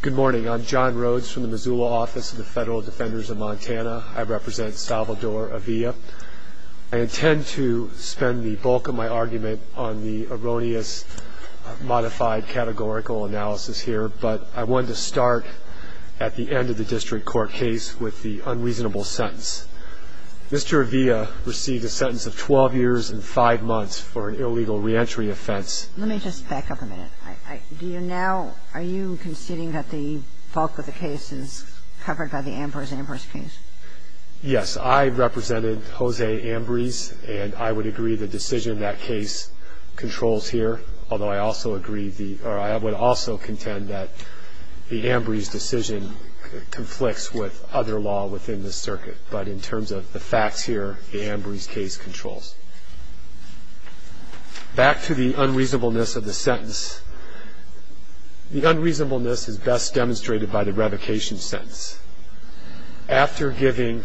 Good morning. I'm John Rhodes from the Missoula Office of the Federal Defenders of Montana. I represent Salvador Avila. I intend to spend the bulk of my argument on the erroneous modified categorical analysis here, but I wanted to start at the end of the district court case with the unreasonable sentence. Mr. Avila received a sentence of 12 years and 5 months for an illegal reentry offense. Let me just back up a minute. Do you now – are you conceding that the bulk of the case is covered by the Ambrose-Ambrose case? Yes. I represented Jose Ambrose, and I would agree the decision in that case controls here, although I also agree the – or I would also contend that the Ambrose decision conflicts with other law within the circuit. But in terms of the facts here, the Ambrose case controls. Back to the unreasonableness of the sentence. The unreasonableness is best demonstrated by the revocation sentence. After giving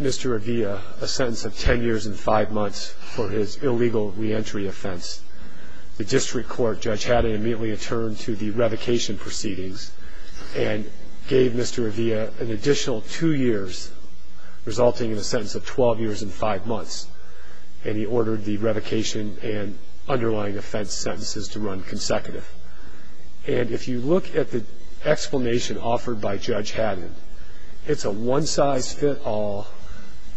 Mr. Avila a sentence of 10 years and 5 months for his illegal reentry offense, the district court judge had him immediately returned to the revocation proceedings and gave Mr. Avila an additional 2 years, resulting in a sentence of 12 years and 5 months. And he ordered the revocation and underlying offense sentences to run consecutive. And if you look at the explanation offered by Judge Haddon, it's a one-size-fit-all,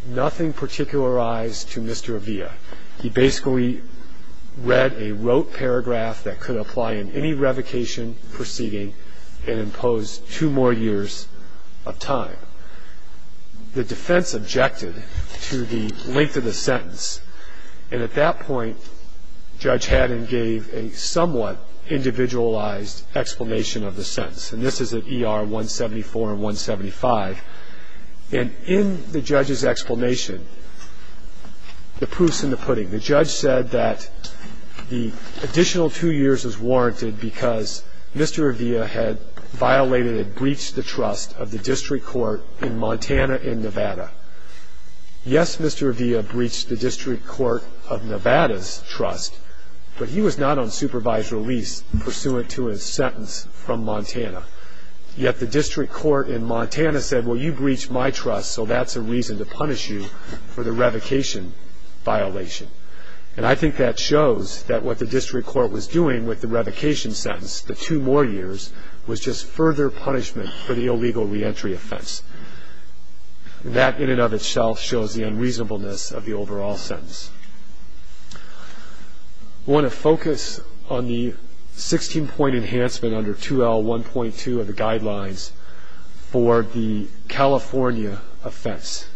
nothing particularized to Mr. Avila. He basically read a rote paragraph that could apply in any revocation proceeding and imposed 2 more years of time. The defense objected to the length of the sentence. And at that point, Judge Haddon gave a somewhat individualized explanation of the sentence. And this is at ER 174 and 175. And in the judge's explanation, the proof's in the pudding. The judge said that the additional 2 years was warranted because Mr. Avila had violated and had breached the trust of the district court in Montana and Nevada. Yes, Mr. Avila breached the district court of Nevada's trust, but he was not on supervised release pursuant to his sentence from Montana. Yet the district court in Montana said, well, you breached my trust, so that's a reason to punish you for the revocation violation. And I think that shows that what the district court was doing with the revocation sentence, the 2 more years, was just further punishment for the illegal reentry offense. That in and of itself shows the unreasonableness of the overall sentence. I want to focus on the 16-point enhancement under 2L1.2 of the guidelines for the California offense.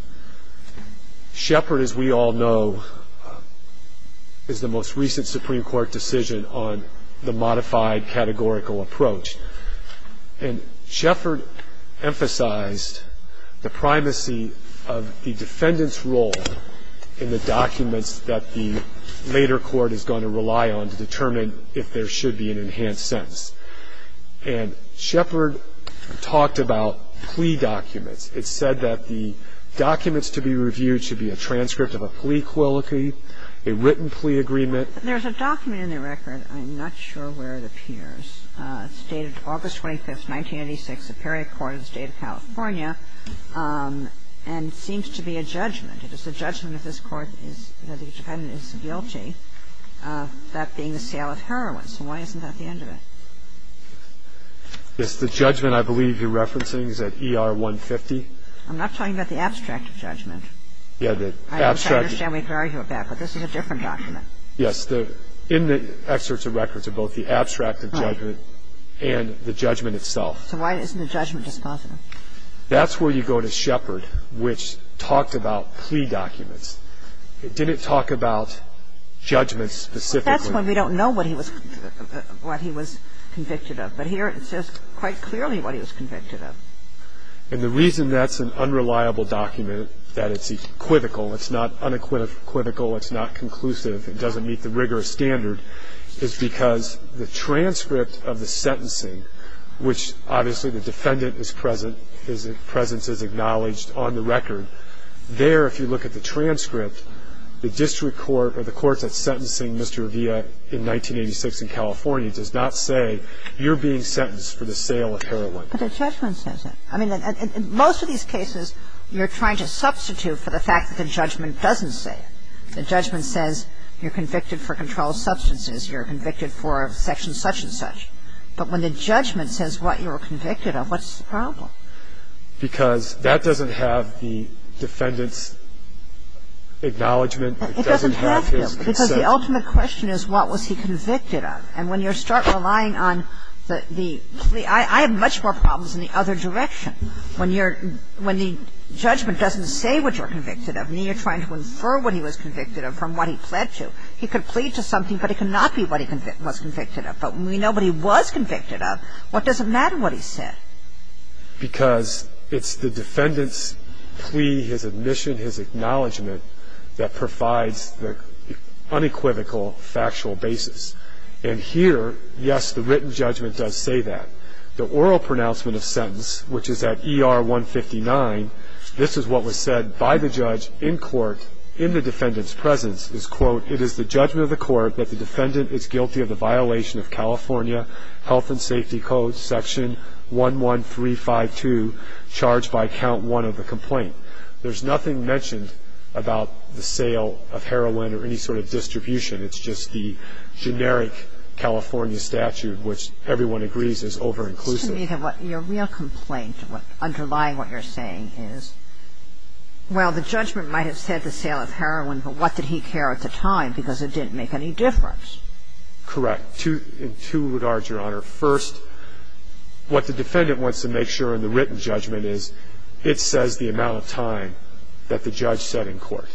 Shepard, as we all know, is the most recent Supreme Court decision on the modified categorical approach. And Shepard emphasized the primacy of the defendant's role in the documents that the later court is going to rely on to determine if there should be an enhanced sentence. And Shepard talked about plea documents. It said that the documents to be reviewed should be a transcript of a plea quality, a written plea agreement. There's a document in the record. I'm not sure where it appears. It's dated August 25th, 1986, the Perry Court in the State of California, and seems to be a judgment. It is a judgment that this court is, that the defendant is guilty of that being the sale of heroin. So why isn't that the end of it? It's the judgment I believe you're referencing. Is that ER-150? I'm not talking about the abstract judgment. Yeah, the abstract. I understand we could argue about that, but this is a different document. Yes. In the excerpts of records are both the abstract judgment and the judgment itself. So why isn't the judgment dispositive? That's where you go to Shepard, which talked about plea documents. It didn't talk about judgments specifically. That's when we don't know what he was convicted of. But here it says quite clearly what he was convicted of. And the reason that's an unreliable document, that it's equivocal, it's not unequivocal, it's not conclusive, it doesn't meet the rigorous standard, is because the transcript of the sentencing, which obviously the defendant is present, his presence is acknowledged on the record. There, if you look at the transcript, the district court or the court that's sentencing Mr. Avila in 1986 in California does not say you're being sentenced for the sale of heroin. But the judgment says that. I mean, in most of these cases, you're trying to substitute for the fact that the judgment doesn't say it. The judgment says you're convicted for controlled substances. You're convicted for section such and such. But when the judgment says what you were convicted of, what's the problem? Because that doesn't have the defendant's acknowledgment. It doesn't have his consent. Because the ultimate question is what was he convicted of. And when you start relying on the plea, I have much more problems in the other direction. When you're – when the judgment doesn't say what you're convicted of, and you're trying to infer what he was convicted of from what he pled to, he could plead to something, but it could not be what he was convicted of. But when we know what he was convicted of, what does it matter what he said? Because it's the defendant's plea, his admission, his acknowledgment that provides the unequivocal factual basis. And here, yes, the written judgment does say that. The oral pronouncement of sentence, which is at ER 159, this is what was said by the judge in court in the defendant's presence, is, quote, it is the judgment of the court that the defendant is guilty of the violation of California Health and Safety Code, section 11352, charged by count one of the complaint. There's nothing mentioned about the sale of heroin or any sort of distribution. It's just the generic California statute, which everyone agrees is over-inclusive. But your real complaint, underlying what you're saying is, well, the judgment might have said the sale of heroin, but what did he care at the time? Because it didn't make any difference. Correct. In two regards, Your Honor. First, what the defendant wants to make sure in the written judgment is, it says the amount of time that the judge said in court,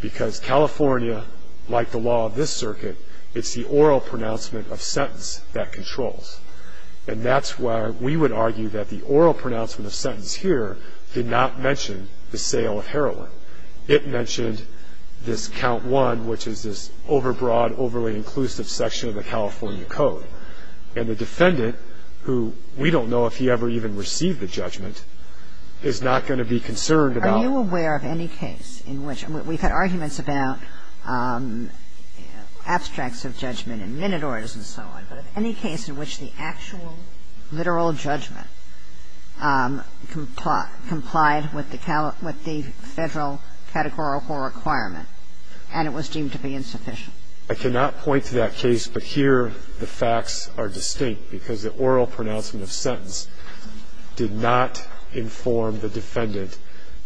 because California, like the law of this circuit, it's the oral pronouncement of sentence that controls. And that's why we would argue that the oral pronouncement of sentence here did not mention the sale of heroin. It mentioned this count one, which is this over-broad, overly-inclusive section of the California Code. And the defendant, who we don't know if he ever even received the judgment, is not going to be concerned about Are you aware of any case in which we've had arguments about abstracts of judgment in Minotaurs and so on, but any case in which the actual literal judgment complied with the federal categorical requirement and it was deemed to be insufficient? I cannot point to that case, but here the facts are distinct, because the oral pronouncement of sentence did not inform the defendant,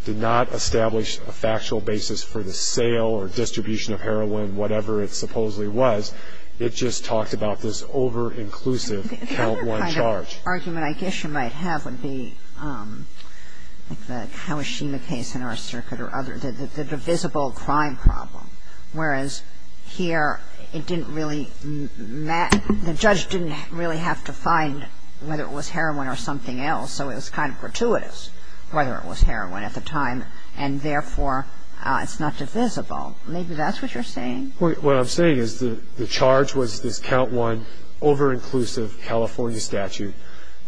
did not establish a factual basis for the sale or distribution of heroin, whatever it supposedly was. It just talked about this over-inclusive count one charge. The other kind of argument I guess you might have would be the Kawashima case in our circuit or other, the divisible crime problem. Whereas here it didn't really matter. The judge didn't really have to find whether it was heroin or something else, so it was kind of gratuitous whether it was heroin at the time, and therefore it's not divisible. Maybe that's what you're saying. What I'm saying is the charge was this count one, over-inclusive California statute.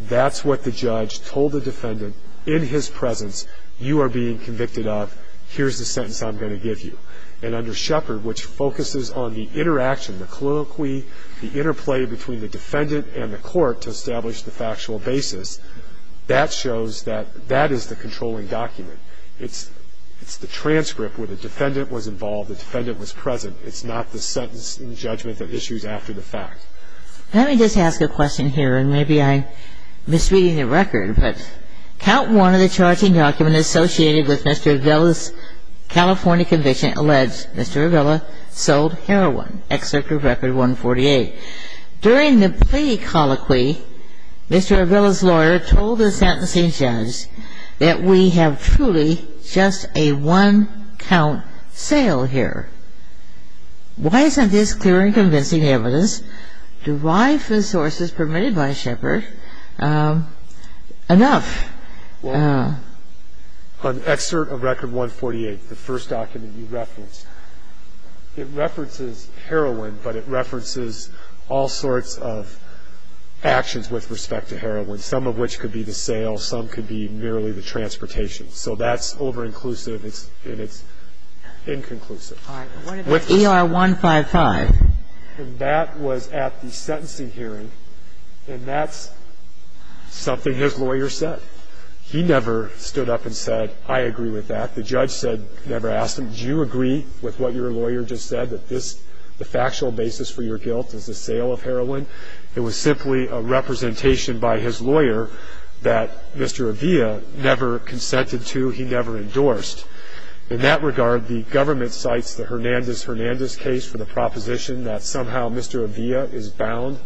That's what the judge told the defendant in his presence, you are being convicted of, here's the sentence I'm going to give you. And under Shepard, which focuses on the interaction, the colloquy, the interplay between the defendant and the court to establish the factual basis, that shows that that is the controlling document. It's the transcript where the defendant was involved, the defendant was present. It's not the sentence in judgment that issues after the fact. Let me just ask a question here, and maybe I'm misreading the record, but count one of the charging documents associated with Mr. Vila's California conviction allegedly alleged Mr. Vila sold heroin, excerpt of Record 148. During the plea colloquy, Mr. Vila's lawyer told the sentencing judge that we have truly just a one-count sale here. Why isn't this clear and convincing evidence derived from sources permitted by Shepard enough? Well, on excerpt of Record 148, the first document you referenced, it references heroin, but it references all sorts of actions with respect to heroin, some of which could be the sale, some could be merely the transportation. So that's over-inclusive, and it's inconclusive. All right. What about ER 155? And that was at the sentencing hearing, and that's something his lawyer said. He never stood up and said, I agree with that. The judge never asked him, do you agree with what your lawyer just said, that the factual basis for your guilt is the sale of heroin? It was simply a representation by his lawyer that Mr. Avila never consented to, he never endorsed. In that regard, the government cites the Hernandez-Hernandez case for the proposition that somehow Mr. Avila is bound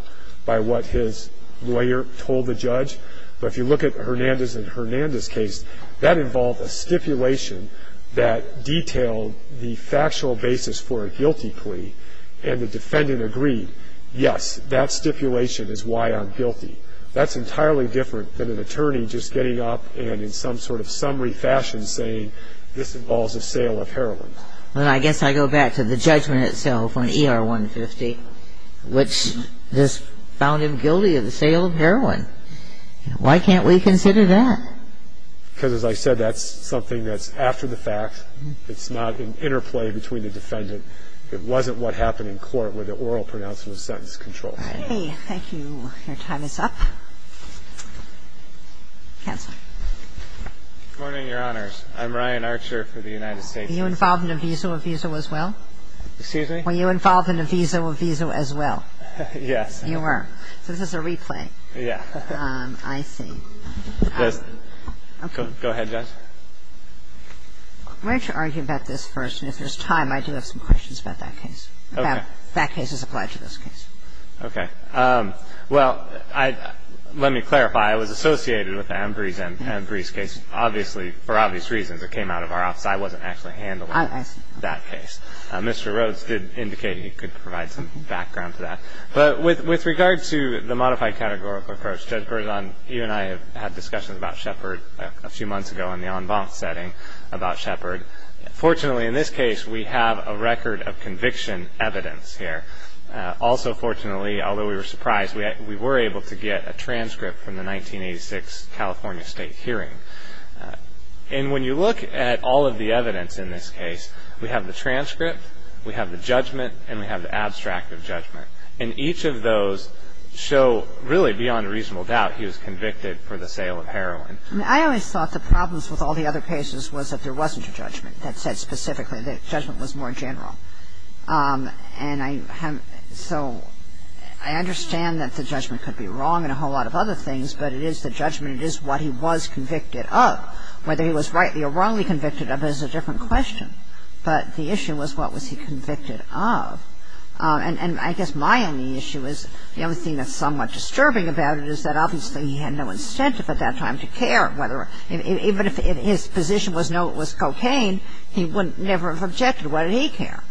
by what his lawyer told the judge. But if you look at the Hernandez-Hernandez case, that involved a stipulation that detailed the factual basis for a guilty plea, and the defendant agreed, yes, that stipulation is why I'm guilty. That's entirely different than an attorney just getting up and in some sort of summary fashion saying this involves the sale of heroin. Well, I guess I go back to the judgment itself on ER 150, which just found him guilty of the sale of heroin. Why can't we consider that? Because, as I said, that's something that's after the fact. It's not an interplay between the defendant. It wasn't what happened in court with the oral pronouncement of sentence control. All right. Thank you. Your time is up. Counsel. Good morning, Your Honors. I'm Ryan Archer for the United States. Are you involved in a visa with Visa as well? Excuse me? Were you involved in a visa with Visa as well? Yes. You were. So this is a replay. Yeah. I see. Go ahead, Judge. I'm going to have to argue about this first, and if there's time, I do have some questions about that case. Okay. That case is applied to this case. Okay. Well, let me clarify. It was associated with the Ambrose case. Obviously, for obvious reasons, it came out of our office. I wasn't actually handling that case. Mr. Rhodes did indicate he could provide some background to that. But with regard to the modified categorical approach, Judge Berzon, you and I had discussions about Shepard a few months ago in the en banc setting about Shepard. Fortunately, in this case, we have a record of conviction evidence here. Also, fortunately, although we were surprised, we were able to get a transcript from the 1986 California state hearing. And when you look at all of the evidence in this case, we have the transcript, we have the judgment, and we have the abstract of judgment. And each of those show, really, beyond a reasonable doubt, he was convicted for the sale of heroin. I always thought the problems with all the other cases was that there wasn't a judgment that said specifically that judgment was more general. And so I understand that the judgment could be wrong in a whole lot of other things, but it is the judgment. It is what he was convicted of. Whether he was rightly or wrongly convicted of is a different question. But the issue was what was he convicted of. And I guess my only issue is the only thing that's somewhat disturbing about it is that obviously he had no incentive at that time to care. Even if his position was cocaine, he would never have objected. Why did he care?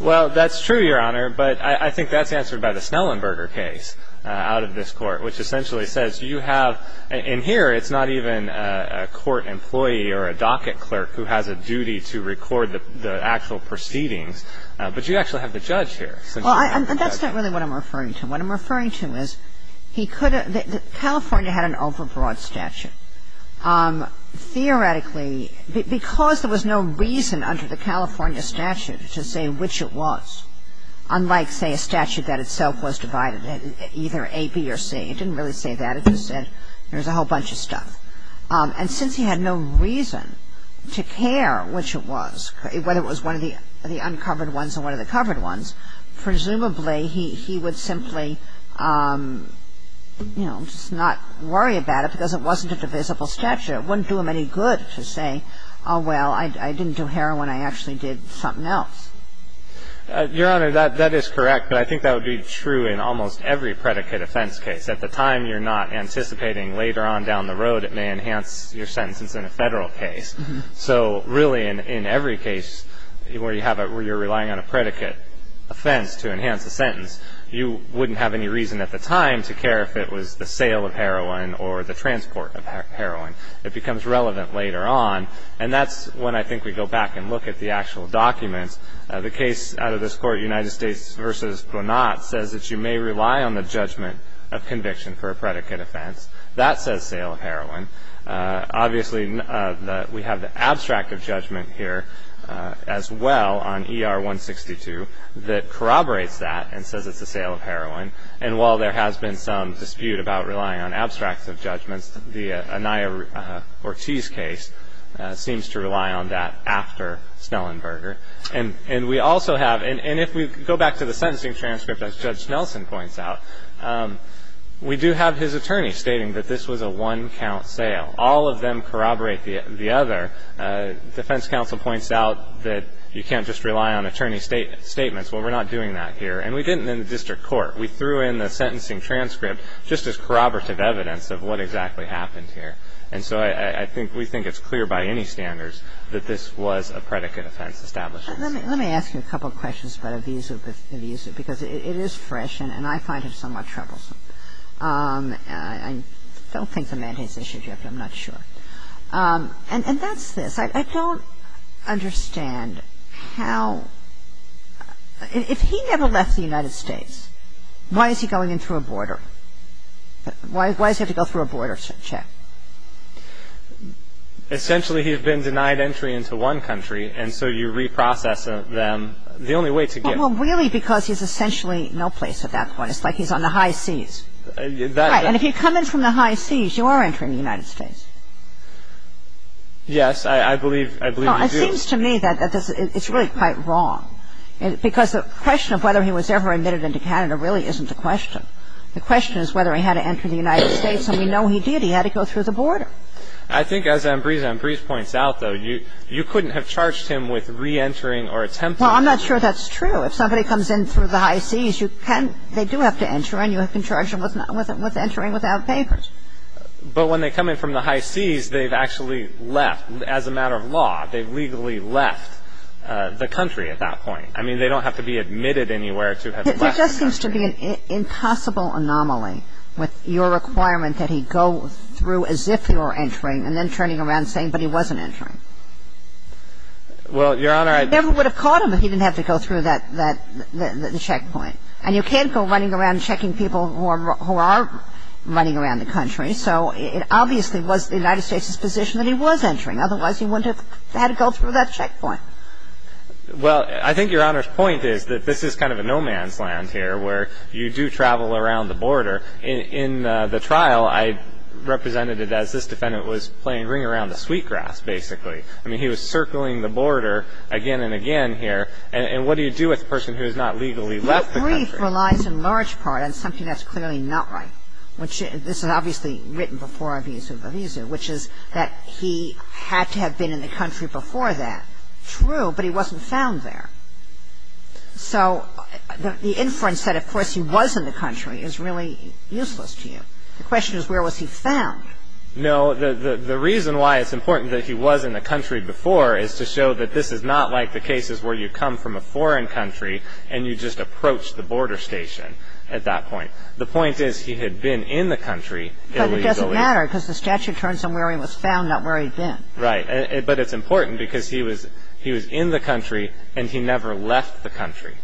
Well, that's true, Your Honor. But I think that's answered by the Snellenberger case out of this Court, which essentially says you have – and here it's not even a court employee or a docket clerk who has a duty to record the actual proceedings, but you actually have the judge here. And that's not really what I'm referring to. What I'm referring to is he could have – California had an overbroad statute. Theoretically, because there was no reason under the California statute to say which it was, unlike, say, a statute that itself was divided either A, B, or C. It didn't really say that. It just said there was a whole bunch of stuff. And since he had no reason to care which it was, whether it was one of the uncovered ones or one of the covered ones, presumably he would simply, you know, just not worry about it because it wasn't a divisible statute. It wouldn't do him any good to say, oh, well, I didn't do heroin. I actually did something else. Your Honor, that is correct. But I think that would be true in almost every predicate offense case. At the time, you're not anticipating later on down the road it may enhance your sentence in a Federal case. So really in every case where you're relying on a predicate offense to enhance a sentence, you wouldn't have any reason at the time to care if it was the sale of heroin or the transport of heroin. It becomes relevant later on. And that's when I think we go back and look at the actual documents. The case out of this Court, United States v. Brunat, says that you may rely on the judgment of conviction for a predicate offense. That says sale of heroin. Obviously, we have the abstract of judgment here as well on ER-162 that corroborates that and says it's a sale of heroin. And while there has been some dispute about relying on abstracts of judgments, the Anaya-Ortiz case seems to rely on that after Snellenberger. And we also have, and if we go back to the sentencing transcript, as Judge Nelson points out, we do have his attorney stating that this was a one-count sale. All of them corroborate the other. Defense counsel points out that you can't just rely on attorney statements. Well, we're not doing that here. And we didn't in the district court. We threw in the sentencing transcript just as corroborative evidence of what exactly happened here. And so I think we think it's clear by any standards that this was a predicate offense established. Let me ask you a couple of questions about Avizo because it is fresh and I find it somewhat troublesome. I don't think the mandate's issued yet, but I'm not sure. And that's this. I don't understand how – if he never left the United States, why is he going in through a border? Why does he have to go through a border check? Essentially, he had been denied entry into one country, and so you reprocess them. The only way to get – Well, really because he's essentially no place at that point. It's like he's on the high seas. Right. And if you come in from the high seas, you are entering the United States. Yes, I believe you do. Well, it seems to me that it's really quite wrong because the question of whether he was ever admitted into Canada really isn't a question. The question is whether he had to enter the United States, and we know he did. He had to go through the border. I think as Ambrise points out, though, you couldn't have charged him with reentering or attempting to. Well, I'm not sure that's true. If somebody comes in through the high seas, you can – they do have to enter, and you can charge them with entering without papers. But when they come in from the high seas, they've actually left. As a matter of law, they've legally left the country at that point. I mean, they don't have to be admitted anywhere to have left the country. It just seems to be an impossible anomaly with your requirement that he go through as if he were entering and then turning around saying, but he wasn't entering. Well, Your Honor, I – He never would have caught him if he didn't have to go through that checkpoint. And you can't go running around checking people who are running around the country. So it obviously was the United States' position that he was entering. Otherwise, he wouldn't have had to go through that checkpoint. Well, I think Your Honor's point is that this is kind of a no-man's land here where you do travel around the border. In the trial, I represented it as this defendant was playing ring around the sweetgrass, basically. I mean, he was circling the border again and again here. And what do you do with a person who has not legally left the country? The brief relies in large part on something that's clearly not right, which this is obviously written before a vis a vis, which is that he had to have been in the country before that. True, but he wasn't found there. So the inference that, of course, he was in the country is really useless to you. The question is where was he found? No. The reason why it's important that he was in the country before is to show that this is not like the cases where you come from a foreign country and you just approach the border station at that point. The point is he had been in the country illegally. But it doesn't matter because the statute turns him where he was found, not where he'd been. Right. But it's important because he was in the country and he never left the country.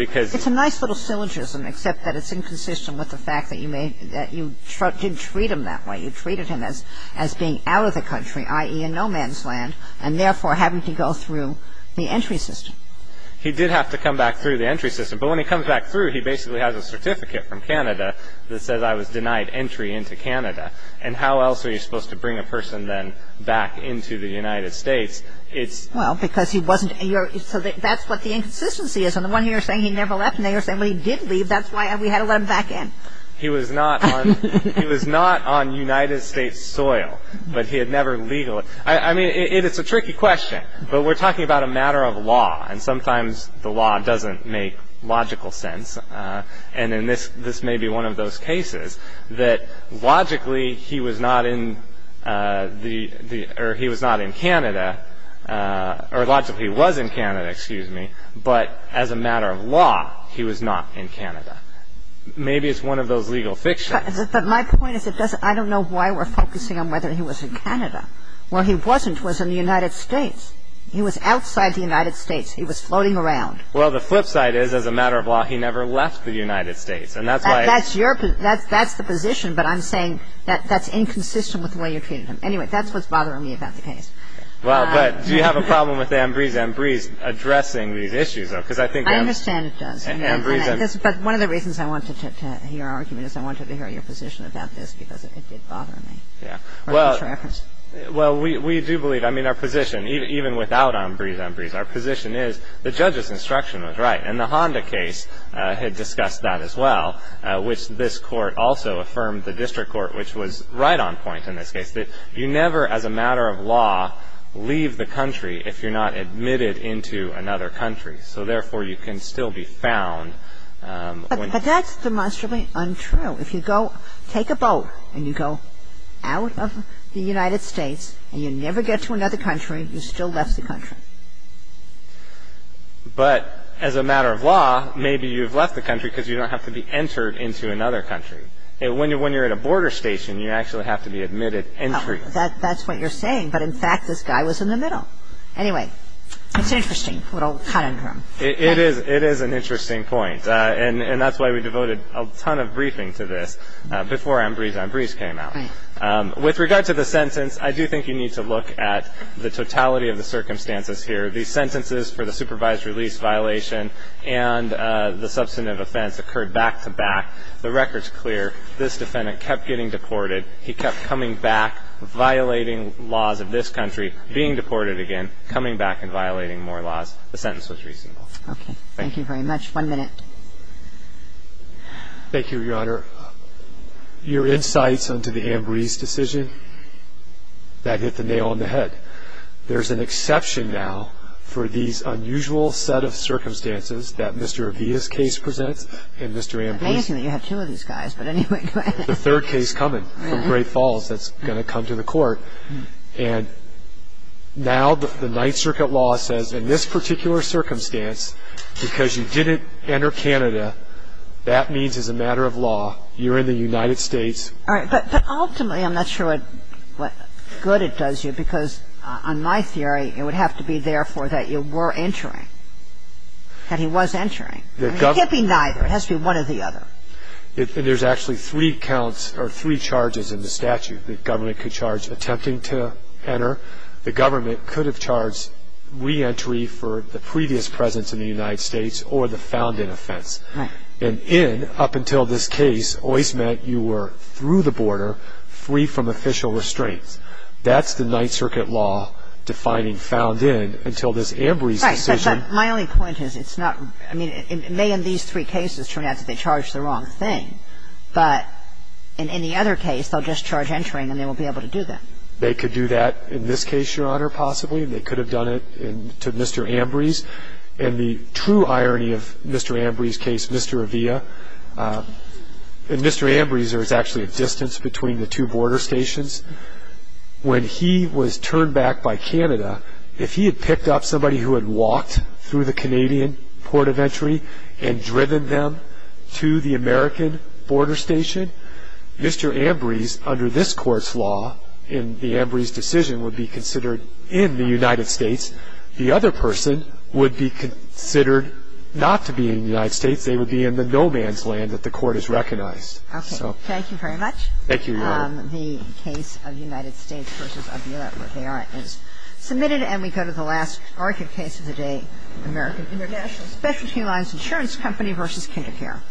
It's a nice little syllogism, except that it's inconsistent with the fact that you did treat him that way. You treated him as being out of the country, i.e. in no man's land, and therefore having to go through the entry system. He did have to come back through the entry system. But when he comes back through, he basically has a certificate from Canada that says I was denied entry into Canada. And how else are you supposed to bring a person then back into the United States? Well, because he wasn't in Europe. So that's what the inconsistency is. And the one you're saying he never left and the other saying he did leave, that's why we had to let him back in. He was not on United States soil. But he had never legally. I mean, it's a tricky question. But we're talking about a matter of law. And sometimes the law doesn't make logical sense. And this may be one of those cases that logically he was not in Canada. Or logically he was in Canada, excuse me. But as a matter of law, he was not in Canada. Maybe it's one of those legal fictions. But my point is I don't know why we're focusing on whether he was in Canada. Where he wasn't was in the United States. He was outside the United States. He was floating around. Well, the flip side is, as a matter of law, he never left the United States. That's the position. But I'm saying that's inconsistent with the way you're treating him. Anyway, that's what's bothering me about the case. Well, but do you have a problem with Ambrise addressing these issues, though? I understand it does. But one of the reasons I wanted to hear our argument is I wanted to hear your position about this because it did bother me. Well, we do believe, I mean, our position, even without Ambrise, our position is the judge's instruction was right. And the Honda case had discussed that as well, which this court also affirmed, the district court, which was right on point in this case, that you never, as a matter of law, leave the country if you're not admitted into another country. So therefore, you can still be found. But that's demonstrably untrue. If you go take a boat and you go out of the United States and you never get to another country, you still left the country. But as a matter of law, maybe you've left the country because you don't have to be entered into another country. When you're at a border station, you actually have to be admitted entry. That's what you're saying. But in fact, this guy was in the middle. Anyway, it's interesting, a little cut in him. It is. It is an interesting point. And that's why we devoted a ton of briefing to this before Ambrise came out. Right. With regard to the sentence, I do think you need to look at the totality of the circumstances here. The sentences for the supervised release violation and the substantive offense occurred back to back. The record's clear. This defendant kept getting deported. He kept coming back, violating laws of this country, being deported again, coming back and violating more laws. The sentence was reasonable. Okay. Thank you very much. One minute. Thank you, Your Honor. Your insights into the Ambrise decision, that hit the nail on the head. There's an exception now for these unusual set of circumstances that Mr. Avita's case presents and Mr. Ambrise's. It's amazing that you have two of these guys. But anyway, go ahead. The third case coming from Great Falls that's going to come to the Court. And now the Ninth Circuit law says in this particular circumstance, because you didn't enter Canada, that means as a matter of law, you're in the United States. All right. But ultimately, I'm not sure what good it does you, because on my theory it would have to be, therefore, that you were entering, that he was entering. It can't be neither. It has to be one or the other. And there's actually three counts or three charges in the statute that government could charge attempting to enter. The government could have charged reentry for the previous presence in the United States or the found in offense. Right. And in, up until this case, always meant you were through the border, free from official restraints. That's the Ninth Circuit law defining found in until this Ambrise decision. Right. My only point is it's not, I mean, it may in these three cases turn out that they charged the wrong thing. But in any other case, they'll just charge entering and they won't be able to do that. They could do that in this case, Your Honor, possibly. They could have done it to Mr. Ambrise. And the true irony of Mr. Ambrise's case, Mr. Avila, in Mr. Ambrise there was actually a distance between the two border stations. When he was turned back by Canada, if he had picked up somebody who had walked through the Canadian port of entry and driven them to the American border station, Mr. Ambrise under this Court's law in the Ambrise decision would be considered in the United States. The other person would be considered not to be in the United States. They would be in the no man's land that the Court has recognized. Okay. Thank you very much. Thank you, Your Honor. The case of United States v. Avila-Rivera is submitted. And we go to the last argued case of the day, American International Specialty Lines Insurance Company v. Kinder Care.